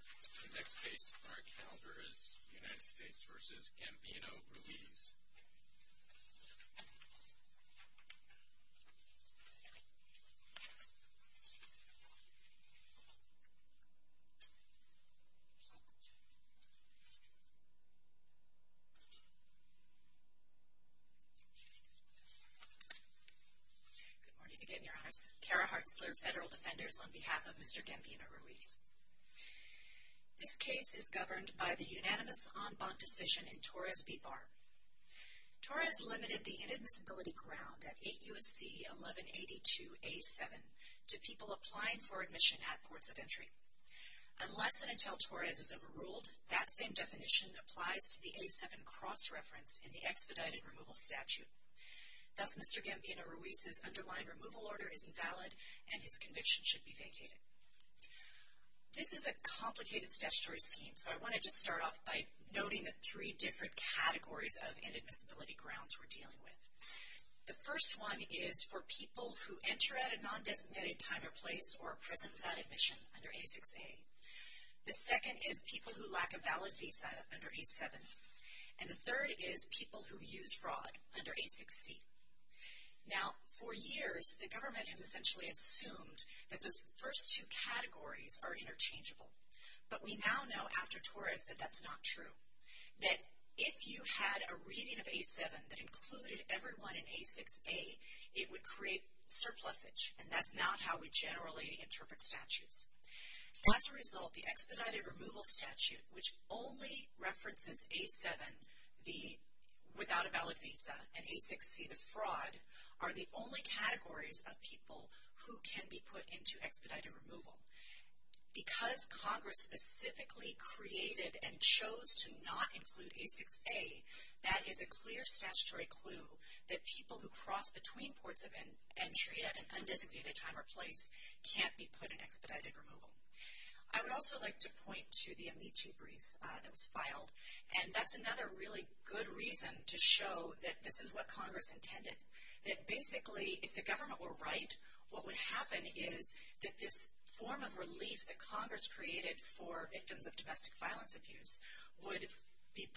The next case on our calendar is United States v. Gambino-Ruiz. Good morning again, Your Honors. Kara Hartzler, Federal Defenders, on behalf of Mr. Gambino-Ruiz. This case is governed by the unanimous en banc decision in Torres v. Barr. Torres limited the inadmissibility ground at 8 U.S.C. 1182-A-7 to people applying for admission at ports of entry. Unless and until Torres is overruled, that same definition applies to the A-7 cross-reference in the expedited removal statute. Thus, Mr. Gambino-Ruiz's underlying removal order is invalid and his conviction should be vacated. This is a complicated statutory scheme, so I want to just start off by noting the three different categories of inadmissibility grounds we're dealing with. The first one is for people who enter at a non-designated time or place or are present without admission under A-6A. The second is people who lack a valid visa under A-7. And the third is people who use fraud under A-6C. Now, for years, the government has essentially assumed that those first two categories are interchangeable. But we now know after Torres that that's not true. That if you had a reading of A-7 that included everyone in A-6A, it would create surplusage. And that's not how we generally interpret statutes. As a result, the expedited removal statute, which only references A-7, the without a valid visa, and A-6C, the fraud, are the only categories of people who can be put into expedited removal. Because Congress specifically created and chose to not include A-6A, that is a clear statutory clue that people who cross between ports of entry at an undesignated time or place can't be put in expedited removal. I would also like to point to the Amici brief that was filed. And that's another really good reason to show that this is what Congress intended. That basically, if the government were right, what would happen is that this form of relief that Congress created for victims of domestic violence abuse would be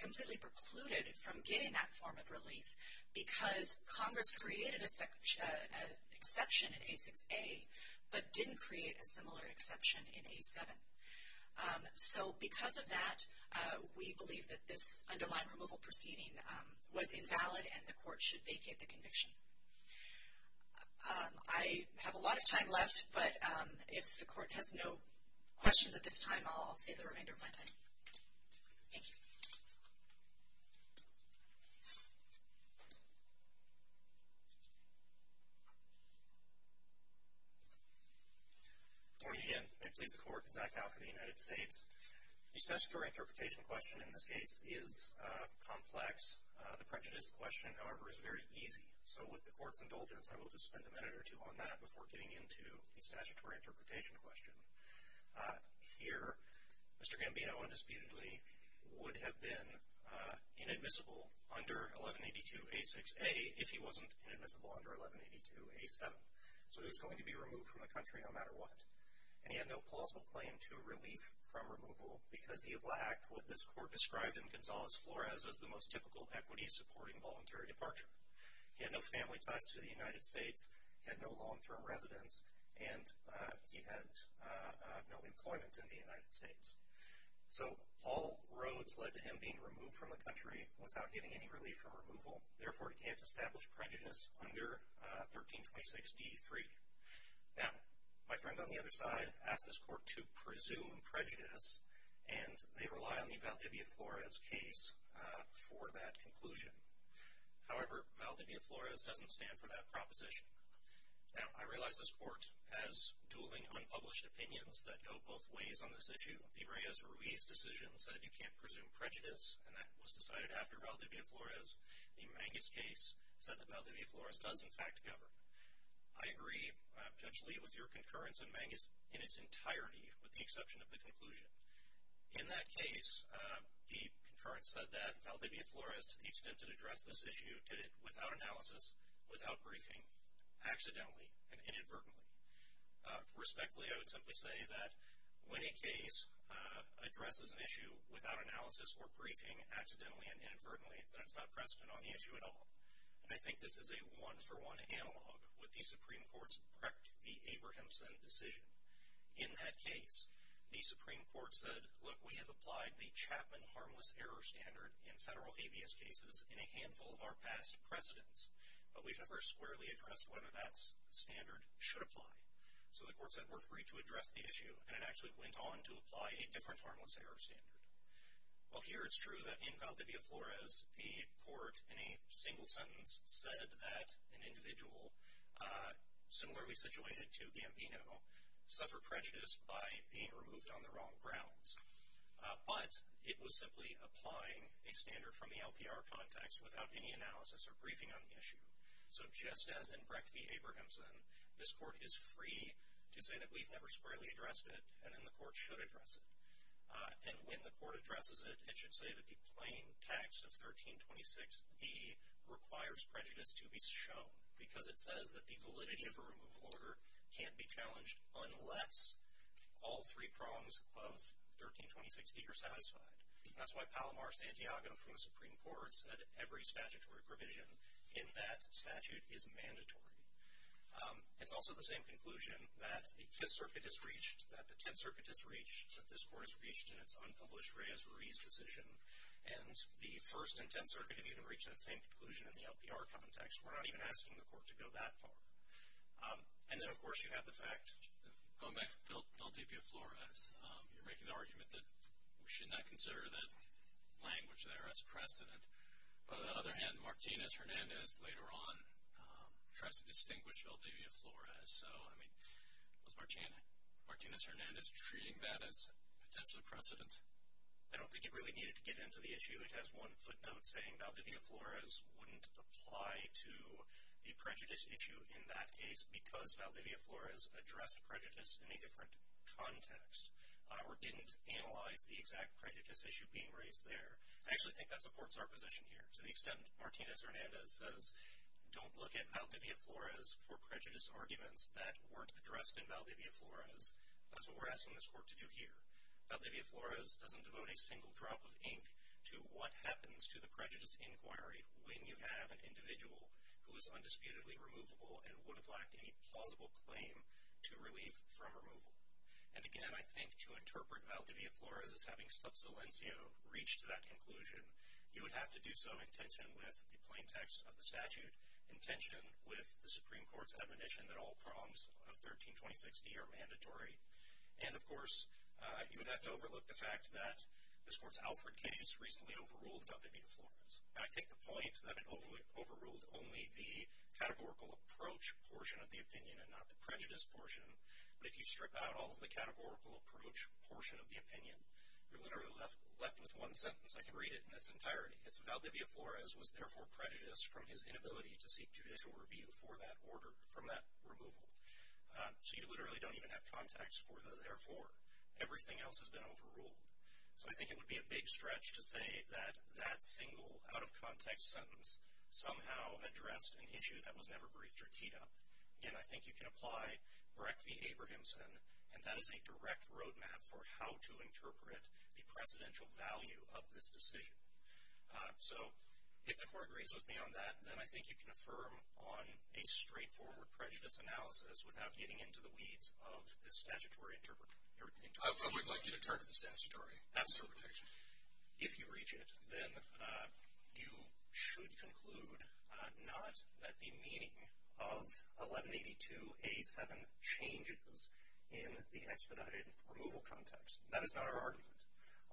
completely precluded from getting that form of relief because Congress created an exception in A-6A but didn't create a similar exception in A-7. So because of that, we believe that this underlined removal proceeding was invalid and the court should vacate the conviction. I have a lot of time left, but if the court has no questions at this time, I'll save the remainder of my time. Thank you. Good morning again. May it please the Court. Zach Howe for the United States. The statutory interpretation question in this case is complex. The prejudiced question, however, is very easy. So with the Court's indulgence, I will just spend a minute or two on that before getting into the statutory interpretation question. Here, Mr. Gambino undisputedly would have been inadmissible under 1182-A-6A if he wasn't inadmissible under 1182-A-7. So he was going to be removed from the country no matter what. And he had no plausible claim to relief from removal because he lacked what this Court described in Gonzales-Flores as the most typical equity-supporting voluntary departure. He had no family ties to the United States, he had no long-term residence, and he had no employment in the United States. So all roads led to him being removed from the country without getting any relief from removal. Therefore, he can't establish prejudice under 1326-D-3. Now, my friend on the other side asked this Court to presume prejudice, and they rely on the Valdivia-Flores case for that conclusion. However, Valdivia-Flores doesn't stand for that proposition. Now, I realize this Court has dueling unpublished opinions that go both ways on this issue. The Reyes-Ruiz decision said you can't presume prejudice, and that was decided after Valdivia-Flores. The Mangus case said that Valdivia-Flores does, in fact, govern. I agree, Judge Lee, with your concurrence in Mangus in its entirety, with the exception of the conclusion. In that case, the concurrence said that Valdivia-Flores, to the extent it addressed this issue, did it without analysis, without briefing, accidentally and inadvertently. Respectfully, I would simply say that when a case addresses an issue without analysis or briefing, accidentally and inadvertently, then it's not precedent on the issue at all. And I think this is a one-for-one analog with the Supreme Court's Brecht v. Abrahamson decision. In that case, the Supreme Court said, look, we have applied the Chapman harmless error standard in federal habeas cases in a handful of our past precedents, but we've never squarely addressed whether that standard should apply. So the Court said we're free to address the issue, and it actually went on to apply a different harmless error standard. Well, here it's true that in Valdivia-Flores, the Court, in a single sentence, said that an individual, similarly situated to Gambino, suffered prejudice by being removed on the wrong grounds. But it was simply applying a standard from the LPR context without any analysis or briefing on the issue. So just as in Brecht v. Abrahamson, this Court is free to say that we've never squarely addressed it, and then the Court should address it. And when the Court addresses it, it should say that the plain text of 1326d requires prejudice to be shown, because it says that the validity of a removal order can't be challenged unless all three prongs of 1326d are satisfied. That's why Palomar Santiago from the Supreme Court said every statutory provision in that statute is mandatory. It's also the same conclusion that the Fifth Circuit has reached, that the Tenth Circuit has reached, that this Court has reached in its unpublished Reyes-Ruiz decision, and the First and Tenth Circuit have even reached that same conclusion in the LPR context. We're not even asking the Court to go that far. And then, of course, you have the fact. Going back to Valdivia-Flores, you're making the argument that we should not consider the language there as precedent. But on the other hand, Martinez-Hernandez later on tries to distinguish Valdivia-Flores. So, I mean, was Martinez-Hernandez treating that as potentially precedent? I don't think it really needed to get into the issue. It has one footnote saying Valdivia-Flores wouldn't apply to the prejudice issue in that case because Valdivia-Flores addressed prejudice in a different context or didn't analyze the exact prejudice issue being raised there. I actually think that supports our position here to the extent Martinez-Hernandez says, don't look at Valdivia-Flores for prejudice arguments that weren't addressed in Valdivia-Flores. That's what we're asking this Court to do here. Valdivia-Flores doesn't devote a single drop of ink to what happens to the prejudice inquiry when you have an individual who is undisputedly removable and would have lacked any plausible claim to relief from removal. And, again, I think to interpret Valdivia-Flores as having sub silencio reach to that conclusion, you would have to do so in tension with the plain text of the statute, in tension with the Supreme Court's admonition that all prongs of 13-2060 are mandatory. And, of course, you would have to overlook the fact that this Court's Alfred case recently overruled Valdivia-Flores. And I take the point that it overruled only the categorical approach portion of the opinion and not the prejudice portion. But if you strip out all of the categorical approach portion of the opinion, you're literally left with one sentence. I can read it in its entirety. It's, Valdivia-Flores was therefore prejudiced from his inability to seek judicial review for that order, from that removal. So you literally don't even have context for the therefore. Everything else has been overruled. So I think it would be a big stretch to say that that single out-of-context sentence somehow addressed an issue that was never briefed or teed up. Again, I think you can apply Breck v. Abrahamson, and that is a direct roadmap for how to interpret the precedential value of this decision. So if the Court agrees with me on that, then I think you can affirm on a straightforward prejudice analysis without getting into the weeds of the statutory interpretation. I would like you to interpret the statutory interpretation. If you reach it, then you should conclude not that the meaning of 1182A7 changes in the expedited removal context. That is not our argument.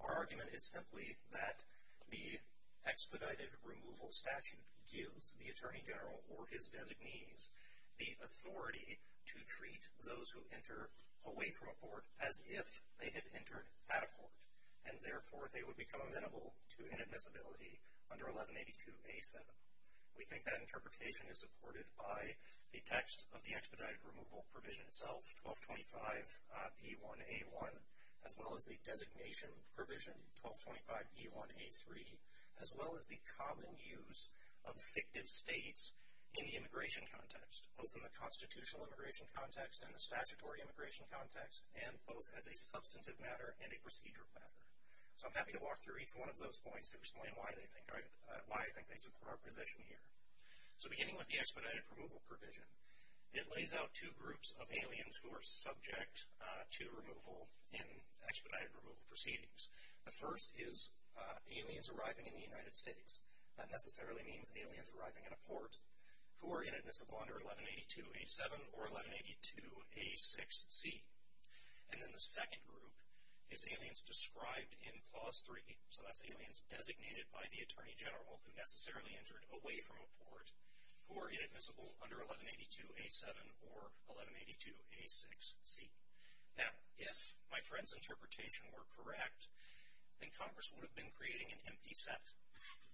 Our argument is simply that the expedited removal statute gives the Attorney General or his designees the authority to treat those who enter away from a court as if they had entered at a court, and therefore they would become amenable to inadmissibility under 1182A7. We think that interpretation is supported by the text of the expedited removal provision itself, 1225E1A1, as well as the designation provision, 1225E1A3, as well as the common use of fictive states in the immigration context, both in the constitutional immigration context and the statutory immigration context, and both as a substantive matter and a procedural matter. So I'm happy to walk through each one of those points to explain why I think they support our position here. So beginning with the expedited removal provision, it lays out two groups of aliens who are subject to removal in expedited removal proceedings. The first is aliens arriving in the United States. That necessarily means aliens arriving in a port who are inadmissible under 1182A7 or 1182A6C. And then the second group is aliens described in Clause 3. So that's aliens designated by the Attorney General who necessarily entered away from a port who are inadmissible under 1182A7 or 1182A6C. Now, if my friend's interpretation were correct, then Congress would have been creating an empty set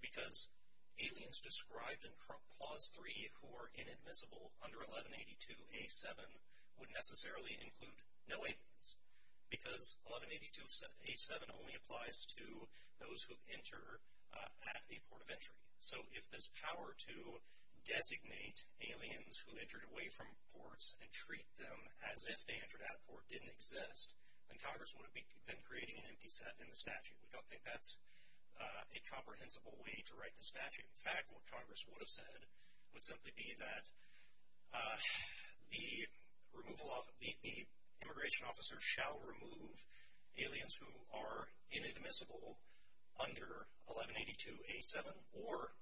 because aliens described in Clause 3 who are inadmissible under 1182A7 would necessarily include no aliens because 1182A7 only applies to those who enter at a port of entry. So if this power to designate aliens who entered away from ports and treat them as if they entered at a port didn't exist, then Congress would have been creating an empty set in the statute. We don't think that's a comprehensible way to write the statute. In fact, what Congress would have said would simply be that the immigration officer shall remove aliens who are inadmissible under 1182A7 or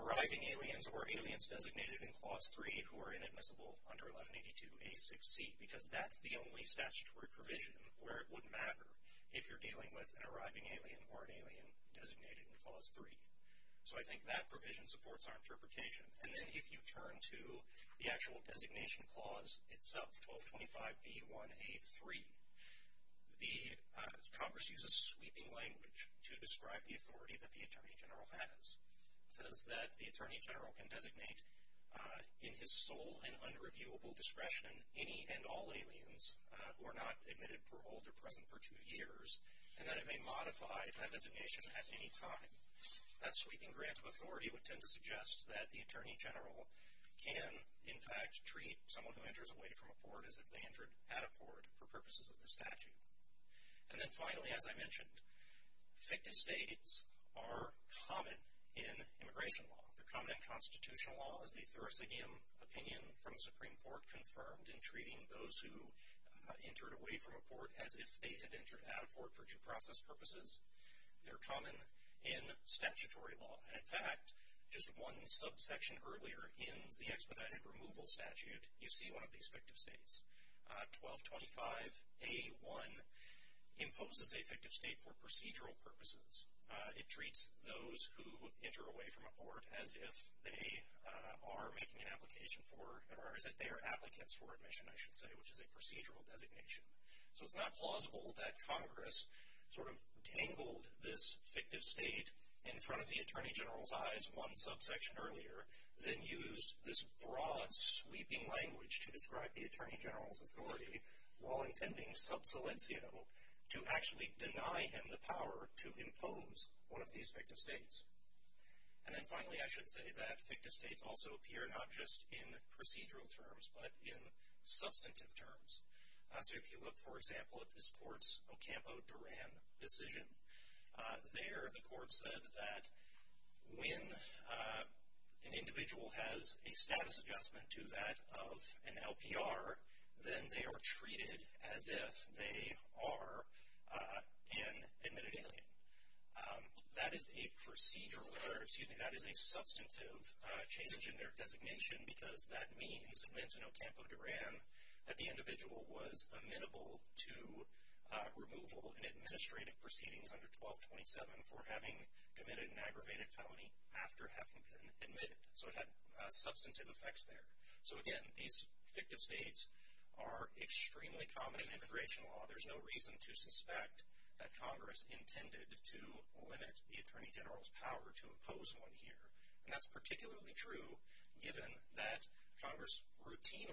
arriving aliens or aliens designated in Clause 3 who are inadmissible under 1182A6C because that's the only statutory provision where it would matter if you're dealing with an arriving alien or an alien designated in Clause 3. So I think that provision supports our interpretation. And then if you turn to the actual designation clause itself, 1225B1A3, Congress uses sweeping language to describe the authority that the Attorney General has. It says that the Attorney General can designate in his sole and unreviewable discretion any and all aliens who are not admitted, paroled, or present for two years, and that it may modify that designation at any time. That sweeping grant of authority would tend to suggest that the Attorney General can, in fact, treat someone who enters away from a port as if they entered at a port for purposes of the statute. And then finally, as I mentioned, fictive states are common in immigration law. They're common in constitutional law, as the Thursigian opinion from the Supreme Court confirmed in treating those who entered away from a port as if they had entered at a port for due process purposes. They're common in statutory law. And, in fact, just one subsection earlier in the expedited removal statute, you see one of these fictive states. 1225A1 imposes a fictive state for procedural purposes. It treats those who enter away from a port as if they are making an application for, or as if they are applicants for admission, I should say, which is a procedural designation. So it's not plausible that Congress sort of tangled this fictive state in front of the Attorney General's eyes one subsection earlier, then used this broad, sweeping language to describe the Attorney General's authority, while intending sub silencio, to actually deny him the power to impose one of these fictive states. And then finally, I should say that fictive states also appear not just in procedural terms, but in substantive terms. So if you look, for example, at this court's Ocampo-Duran decision, there the court said that when an individual has a status adjustment to that of an LPR, then they are treated as if they are an admitted alien. That is a procedural, or excuse me, that is a substantive change in their designation, because that means it meant in Ocampo-Duran that the individual was amenable to removal in administrative proceedings under 1227 for having committed an aggravated felony after having been admitted. So it had substantive effects there. So again, these fictive states are extremely common in immigration law. There's no reason to suspect that Congress intended to limit the Attorney General's power to impose one here. And that's particularly true given that Congress routinely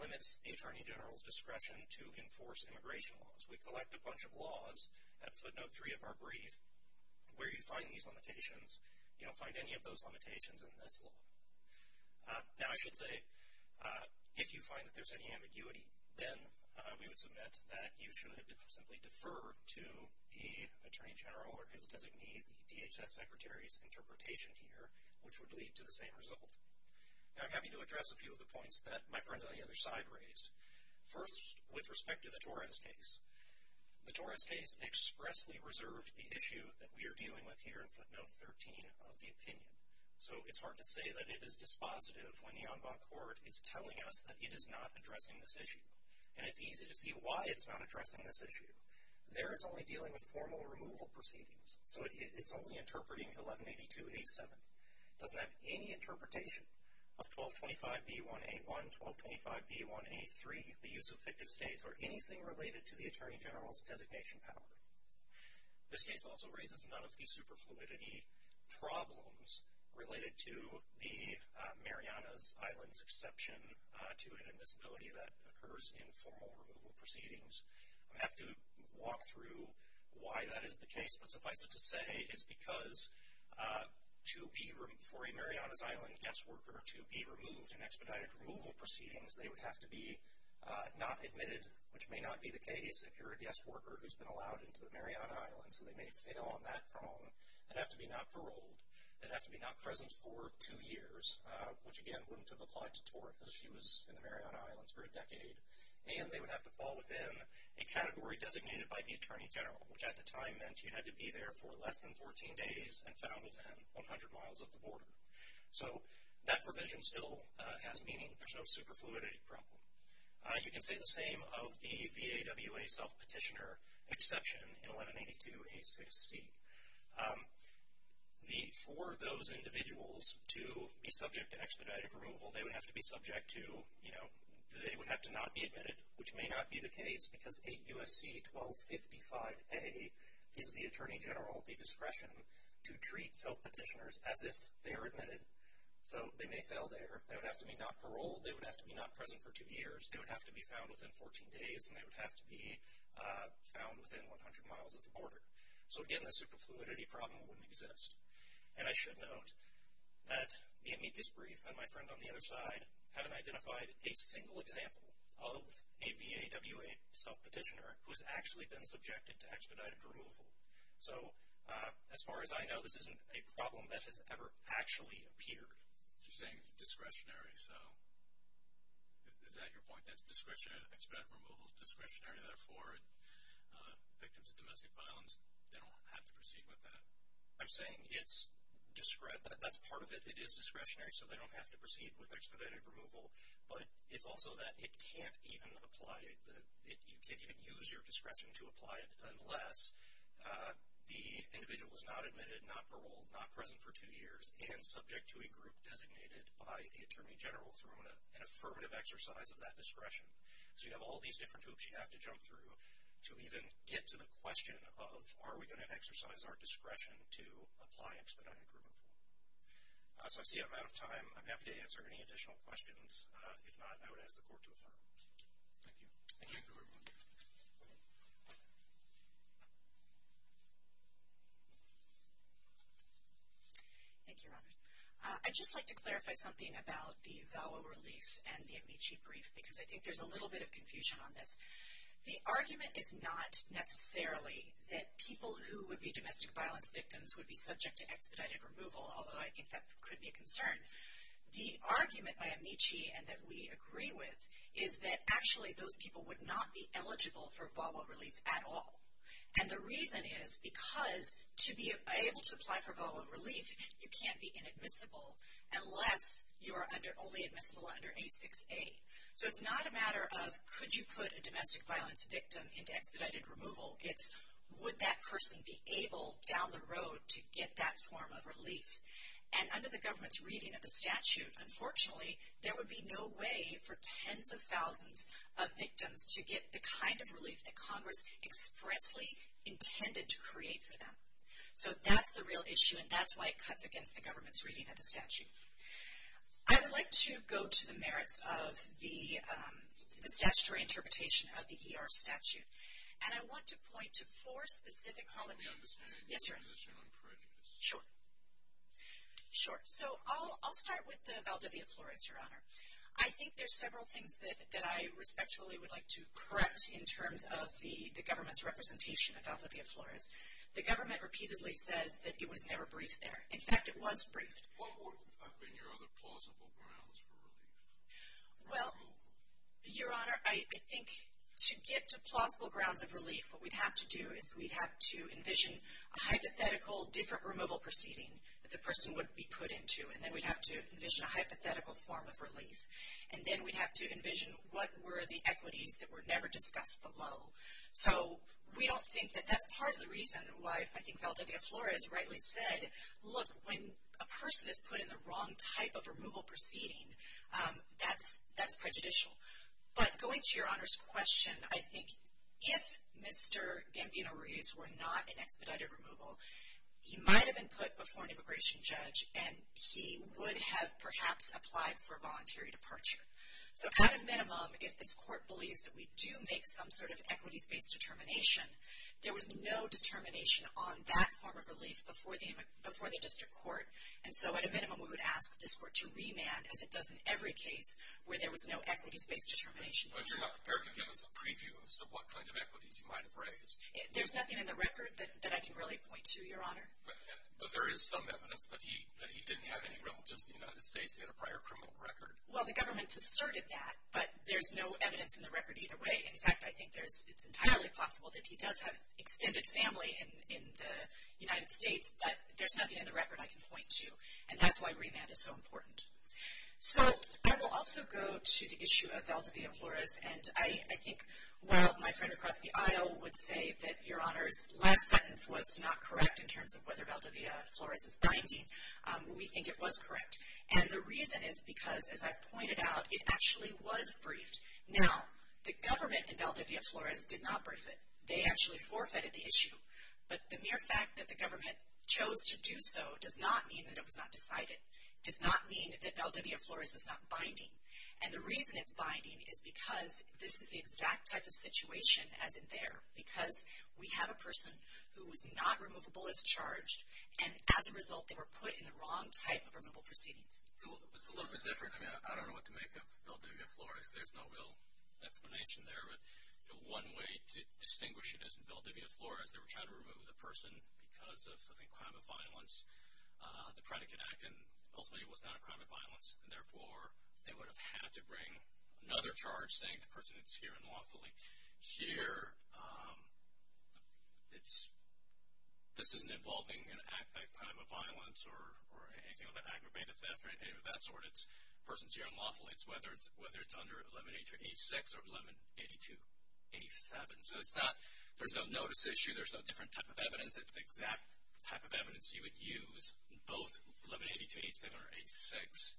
limits the Attorney General's discretion to enforce immigration laws. We collect a bunch of laws at footnote 3 of our brief. Where you find these limitations, you don't find any of those limitations in this law. Now, I should say, if you find that there's any ambiguity, then we would submit that you should simply defer to the Attorney General or his designee, the DHS Secretary's interpretation here, which would lead to the same result. Now, I'm happy to address a few of the points that my friends on the other side raised. First, with respect to the Torres case, the Torres case expressly reserved the issue that we are dealing with here in footnote 13 of the opinion. So it's hard to say that it is dispositive when the en banc court is telling us that it is not addressing this issue. And it's easy to see why it's not addressing this issue. There, it's only dealing with formal removal proceedings. So it's only interpreting 1182A7. It doesn't have any interpretation of 1225B1A1, 1225B1A3, the use of fictive states, or anything related to the Attorney General's designation power. This case also raises none of the superfluidity problems related to the Marianas Island's exception to an admissibility that occurs in formal removal proceedings. I'll have to walk through why that is the case. But suffice it to say, it's because for a Marianas Island guest worker to be removed in expedited removal proceedings, they would have to be not admitted, which may not be the case if you're a guest worker who's been allowed into the Marianas Island. So they may fail on that prong. They'd have to be not paroled. They'd have to be not present for two years, which, again, wouldn't have applied to Tort as she was in the Marianas Islands for a decade. And they would have to fall within a category designated by the Attorney General, which at the time meant you had to be there for less than 14 days and found within 100 miles of the border. So that provision still has meaning. There's no superfluidity problem. You can say the same of the VAWA self-petitioner exception in 1182A6C. For those individuals to be subject to expedited removal, they would have to be subject to, you know, they would have to not be admitted, which may not be the case because 8 U.S.C. 1255A gives the Attorney General the discretion to treat self-petitioners as if they are admitted. So they may fail there. They would have to be not paroled. They would have to be not present for two years. They would have to be found within 14 days, and they would have to be found within 100 miles of the border. So, again, the superfluidity problem wouldn't exist. And I should note that the amicus brief and my friend on the other side haven't identified a single example of a VAWA self-petitioner who has actually been subjected to expedited removal. So as far as I know, this isn't a problem that has ever actually appeared. You're saying it's discretionary. So is that your point, that expedited removal is discretionary, and therefore victims of domestic violence don't have to proceed with that? I'm saying it's discretionary. That's part of it. It is discretionary, so they don't have to proceed with expedited removal. But it's also that it can't even apply. You can't even use your discretion to apply it unless the individual is not admitted, not paroled, not present for two years, and subject to a group designated by the Attorney General through an affirmative exercise of that discretion. So you have all these different hoops you have to jump through to even get to the question of, are we going to exercise our discretion to apply expedited removal? So I see I'm out of time. I'm happy to answer any additional questions. If not, I would ask the Court to affirm. Thank you. I have another one. Thank you, Robert. I'd just like to clarify something about the VALWA relief and the Amici brief, because I think there's a little bit of confusion on this. The argument is not necessarily that people who would be domestic violence victims would be subject to expedited removal, although I think that could be a concern. The argument by Amici, and that we agree with, is that actually those people would not be eligible for VALWA relief at all. And the reason is because to be able to apply for VALWA relief, you can't be inadmissible unless you are only admissible under A6A. So it's not a matter of could you put a domestic violence victim into expedited removal. It's would that person be able, down the road, to get that form of relief. And under the government's reading of the statute, unfortunately, there would be no way for tens of thousands of victims to get the kind of relief that Congress expressly intended to create for them. So that's the real issue, and that's why it cuts against the government's reading of the statute. I would like to go to the merits of the statutory interpretation of the ER statute, and I want to point to four specific comments. Let me understand your position on prejudice. Sure. So I'll start with the Valdivia Flores, Your Honor. I think there's several things that I respectfully would like to correct in terms of the government's representation of Valdivia Flores. The government repeatedly says that it was never briefed there. In fact, it was briefed. What would have been your other plausible grounds for relief? Well, Your Honor, I think to get to plausible grounds of relief, what we'd have to do is we'd have to envision a hypothetical different removal proceeding that the person would be put into, and then we'd have to envision a hypothetical form of relief. And then we'd have to envision what were the equities that were never discussed below. So we don't think that that's part of the reason why I think Valdivia Flores rightly said, look, when a person is put in the wrong type of removal proceeding, that's prejudicial. But going to Your Honor's question, I think if Mr. Gambino-Ruiz were not in expedited removal, he might have been put before an immigration judge, and he would have perhaps applied for voluntary departure. So at a minimum, if this court believes that we do make some sort of equities-based determination, there was no determination on that form of relief before the district court. And so at a minimum, we would ask this court to remand, as it does in every case where there was no equities-based determination. But you're not prepared to give us a preview as to what kind of equities he might have raised. There's nothing in the record that I can really point to, Your Honor. But there is some evidence that he didn't have any relatives in the United States. He had a prior criminal record. Well, the government's asserted that, but there's no evidence in the record either way. In fact, I think it's entirely possible that he does have extended family in the United States, but there's nothing in the record I can point to, and that's why remand is so important. So I will also go to the issue of Valdivia Flores. And I think while my friend across the aisle would say that Your Honor's last sentence was not correct in terms of whether Valdivia Flores is binding, we think it was correct. And the reason is because, as I've pointed out, it actually was briefed. Now, the government in Valdivia Flores did not brief it. They actually forfeited the issue. But the mere fact that the government chose to do so does not mean that it was not decided. It does not mean that Valdivia Flores is not binding. And the reason it's binding is because this is the exact type of situation as in there, because we have a person who was not removable as charged, and as a result they were put in the wrong type of removal proceedings. It's a little bit different. I mean, I don't know what to make of Valdivia Flores. There's no real explanation there. But one way to distinguish it is in Valdivia Flores they were trying to remove the person because of, I think, crime of violence. The predicate act ultimately was not a crime of violence, and therefore they would have had to bring another charge saying the person is here unlawfully. Here, this isn't involving an act of crime of violence or anything like that, aggravated theft or anything of that sort. The person is here unlawfully, whether it's under 1182-86 or 1182-87. So there's no notice issue. There's no different type of evidence. It's the exact type of evidence you would use in both 1182-87 or 86.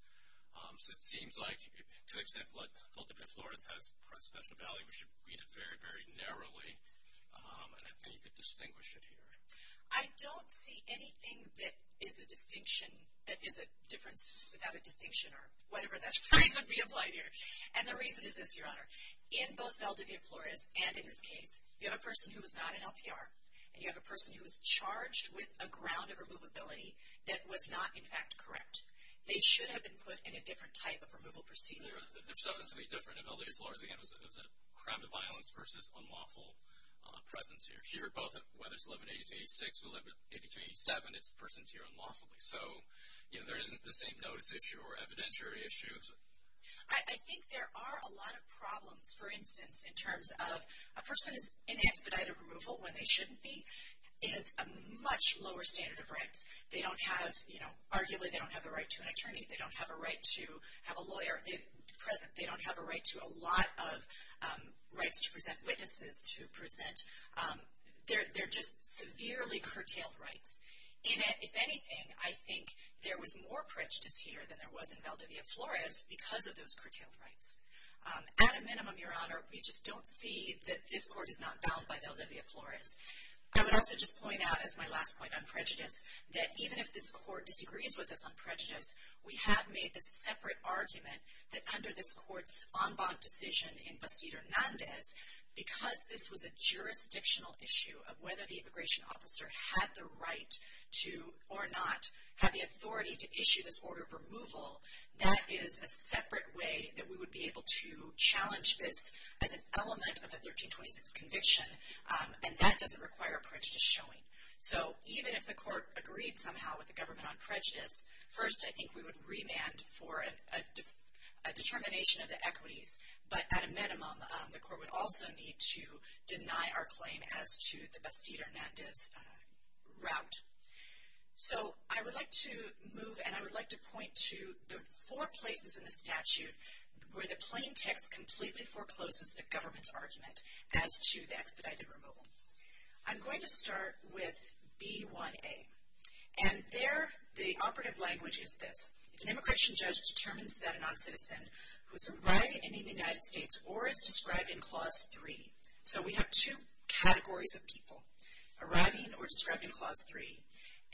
So it seems like, to the extent that Valdivia Flores has special value, we should read it very, very narrowly. And I think you could distinguish it here. I don't see anything that is a distinction, that is a difference without a distinction or whatever that phrase would be implied here. And the reason is this, Your Honor. In both Valdivia Flores and in this case, you have a person who is not an LPR, and you have a person who is charged with a ground of removability that was not, in fact, correct. They should have been put in a different type of removal procedure. There's something to be different in Valdivia Flores, again, as a crime of violence versus unlawful presence here. Here, whether it's 1182-86 or 1182-87, it's the person is here unlawfully. So there isn't the same notice issue or evidentiary issue. I think there are a lot of problems, for instance, in terms of a person's in expedited removal when they shouldn't be is a much lower standard of rights. They don't have, you know, arguably they don't have a right to an attorney. They don't have a right to have a lawyer present. They don't have a right to a lot of rights to present witnesses, to present. They're just severely curtailed rights. If anything, I think there was more prejudice here than there was in Valdivia Flores because of those curtailed rights. At a minimum, Your Honor, we just don't see that this court is not bound by Valdivia Flores. I would also just point out, as my last point on prejudice, that even if this court disagrees with us on prejudice, we have made the separate argument that under this court's en banc decision in Bastido Hernandez, because this was a jurisdictional issue of whether the immigration officer had the right to or not have the authority to issue this order of removal, that is a separate way that we would be able to challenge this as an element of the 1326 conviction. And that doesn't require prejudice showing. So even if the court agreed somehow with the government on prejudice, first I think we would remand for a determination of the equities. But at a minimum, the court would also need to deny our claim as to the Bastido Hernandez route. So I would like to move and I would like to point to the four places in the statute where the plain text completely forecloses the government's argument as to the expedited removal. I'm going to start with B1A. And there the operative language is this. If an immigration judge determines that a non-citizen who is arriving in the United States or is described in Clause 3. So we have two categories of people arriving or described in Clause 3.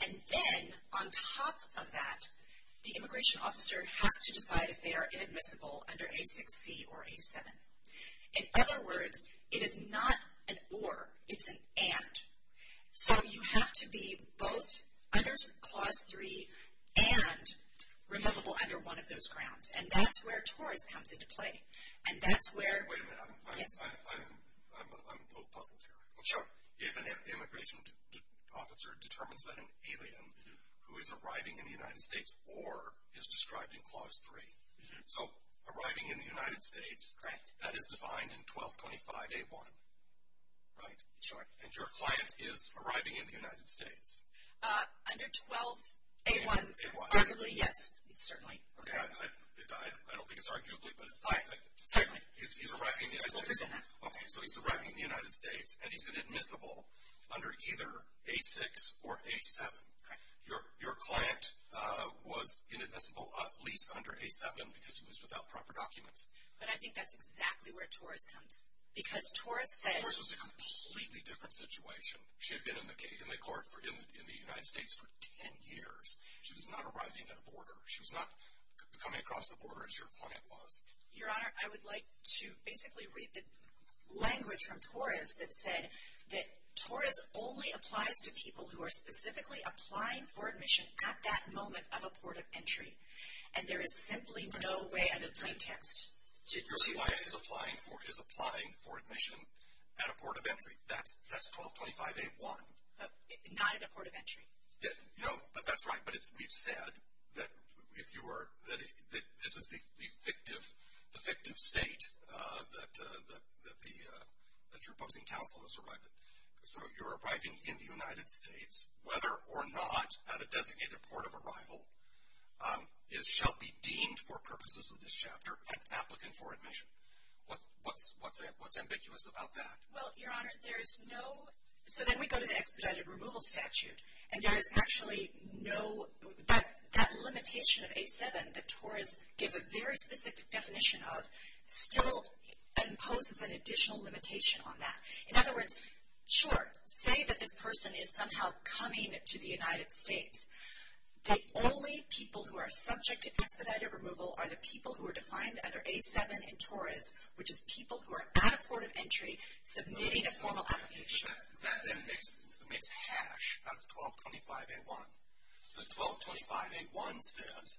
And then on top of that, the immigration officer has to decide if they are inadmissible under A6C or A7. In other words, it is not an or, it's an and. So you have to be both under Clause 3 and removable under one of those grounds. And that's where TORS comes into play. And that's where... Wait a minute. I'm a little puzzled here. Sure. If an immigration officer determines that an alien who is arriving in the United States or is described in Clause 3. So arriving in the United States, that is defined in 1225A1. Right? Sure. And your client is arriving in the United States. Under 12A1. A1. Arguably, yes. Certainly. Okay. I don't think it's arguably, but... Certainly. He's arriving in the United States. Okay. So he's arriving in the United States and he's inadmissible under either A6 or A7. Correct. Your client was inadmissible at least under A7 because he was without proper documents. But I think that's exactly where TORS comes. Because TORS says... She had been in the court in the United States for 10 years. She was not arriving at a border. She was not coming across the border as your client was. Your Honor, I would like to basically read the language from TORS that said that TORS only applies to people who are specifically applying for admission at that moment of a port of entry. And there is simply no way under plain text to... Your client is applying for admission at a port of entry. That's 1225A1. Not at a port of entry. No. But that's right. But we've said that this is the fictive state that you're opposing counsel has arrived at. So you're arriving in the United States, whether or not at a designated port of arrival, shall be deemed for purposes of this chapter an applicant for admission. What's ambiguous about that? Well, Your Honor, there is no... So then we go to the expedited removal statute. And there is actually no... That limitation of A7 that TORS gave a very specific definition of still imposes an additional limitation on that. In other words, sure, say that this person is somehow coming to the United States. The only people who are subject to expedited removal are the people who are defined under A7 in TORS, which is people who are at a port of entry submitting a formal application. That then makes hash out of 1225A1. The 1225A1 says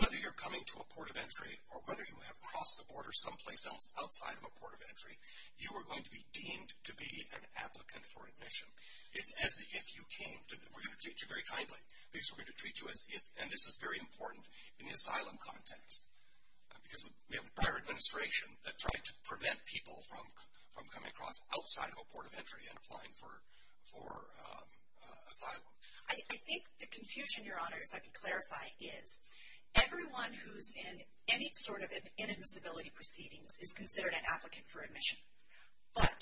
whether you're coming to a port of entry or whether you have crossed the border someplace else outside of a port of entry, you are going to be deemed to be an applicant for admission. It's as if you came to... We're going to treat you very kindly because we're going to treat you as if... And this is very important in the asylum context. Because we have a prior administration that tried to prevent people from coming across outside of a port of entry and applying for asylum. I think the confusion, Your Honor, if I could clarify, is everyone who's in any sort of inadmissibility proceedings is considered an applicant for admission. But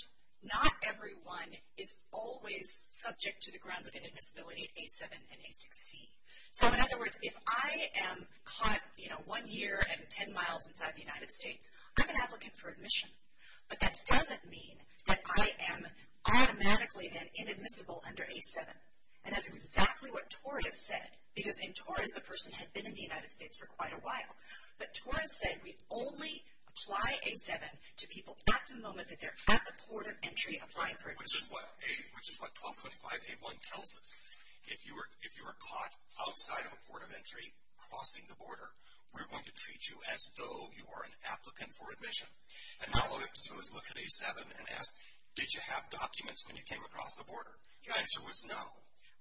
not everyone is always subject to the grounds of inadmissibility in A7 and A6C. So in other words, if I am caught one year and 10 miles inside the United States, I'm an applicant for admission. But that doesn't mean that I am automatically then inadmissible under A7. And that's exactly what TORS has said. Because in TORS, the person had been in the United States for quite a while. But TORS said we only apply A7 to people at the moment that they're at the port of entry applying for admission. Which is what 1225A1 tells us. If you are caught outside of a port of entry crossing the border, we're going to treat you as though you are an applicant for admission. And now all we have to do is look at A7 and ask, did you have documents when you came across the border? Your answer was no.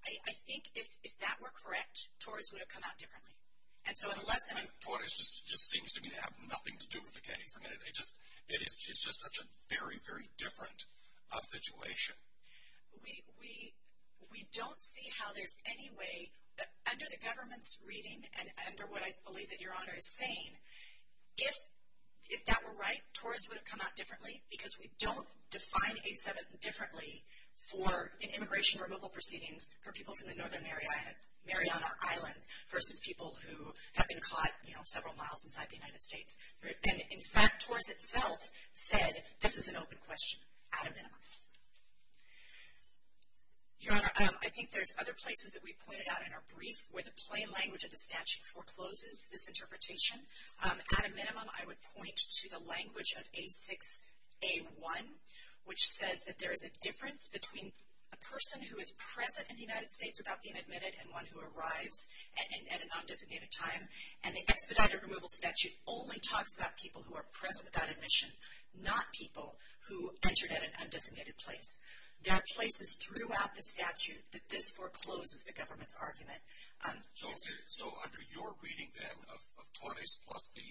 I think if that were correct, TORS would have come out differently. And so unless... I mean, TORS just seems to me to have nothing to do with the case. I mean, it's just such a very, very different situation. We don't see how there's any way under the government's reading and under what I believe that Your Honor is saying, if that were right, TORS would have come out differently. Because we don't define A7 differently for immigration removal proceedings for people in the Northern Mariana Islands versus people who have been caught, you know, several miles inside the United States. And, in fact, TORS itself said this is an open question at a minimum. Your Honor, I think there's other places that we pointed out in our brief where the plain language of the statute forecloses this interpretation. At a minimum, I would point to the language of A6A1, which says that there is a difference between a person who is present in the United States without being admitted and one who arrives at a non-designated time. And the expedited removal statute only talks about people who are present without admission, not people who entered at an undesignated place. There are places throughout the statute that this forecloses the government's argument. So under your reading, then, of TORS plus the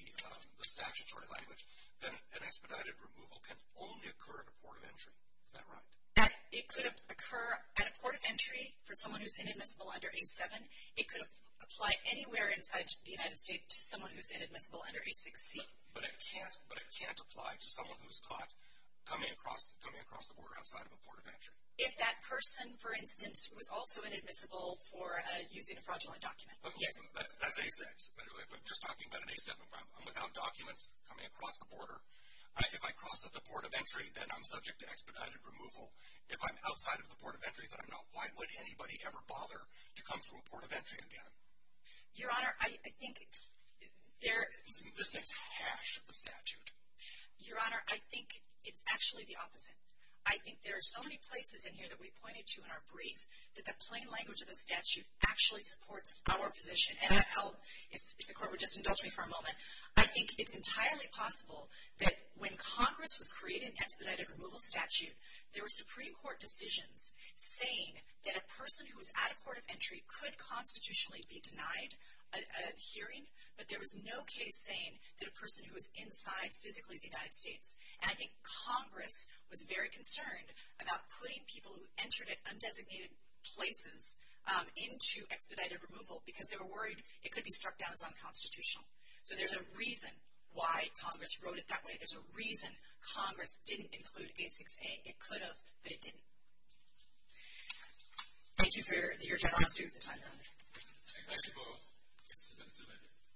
statutory language, an expedited removal can only occur at a port of entry. Is that right? It could occur at a port of entry for someone who's inadmissible under A7. It could apply anywhere inside the United States to someone who's inadmissible under A6C. But it can't apply to someone who's caught coming across the border outside of a port of entry? If that person, for instance, was also inadmissible for using a fraudulent document, yes. That's A6. If I'm just talking about an A7, I'm without documents coming across the border. If I cross at the port of entry, then I'm subject to expedited removal. If I'm outside of the port of entry, then I'm not. Why would anybody ever bother to come through a port of entry again? Your Honor, I think there— Isn't this next hash of the statute? Your Honor, I think it's actually the opposite. I think there are so many places in here that we pointed to in our brief that the plain language of the statute actually supports our position. And I'll—if the Court would just indulge me for a moment. I think it's entirely possible that when Congress was creating an expedited removal statute, there were Supreme Court decisions saying that a person who was at a port of entry could constitutionally be denied a hearing, but there was no case saying that a person who was inside physically the United States. And I think Congress was very concerned about putting people who entered at undesignated places into expedited removal because they were worried it could be struck down as unconstitutional. So there's a reason why Congress wrote it that way. There's a reason Congress didn't include A6A. It could have, but it didn't. Thank you for your generosity of the time, Your Honor. Thank you both.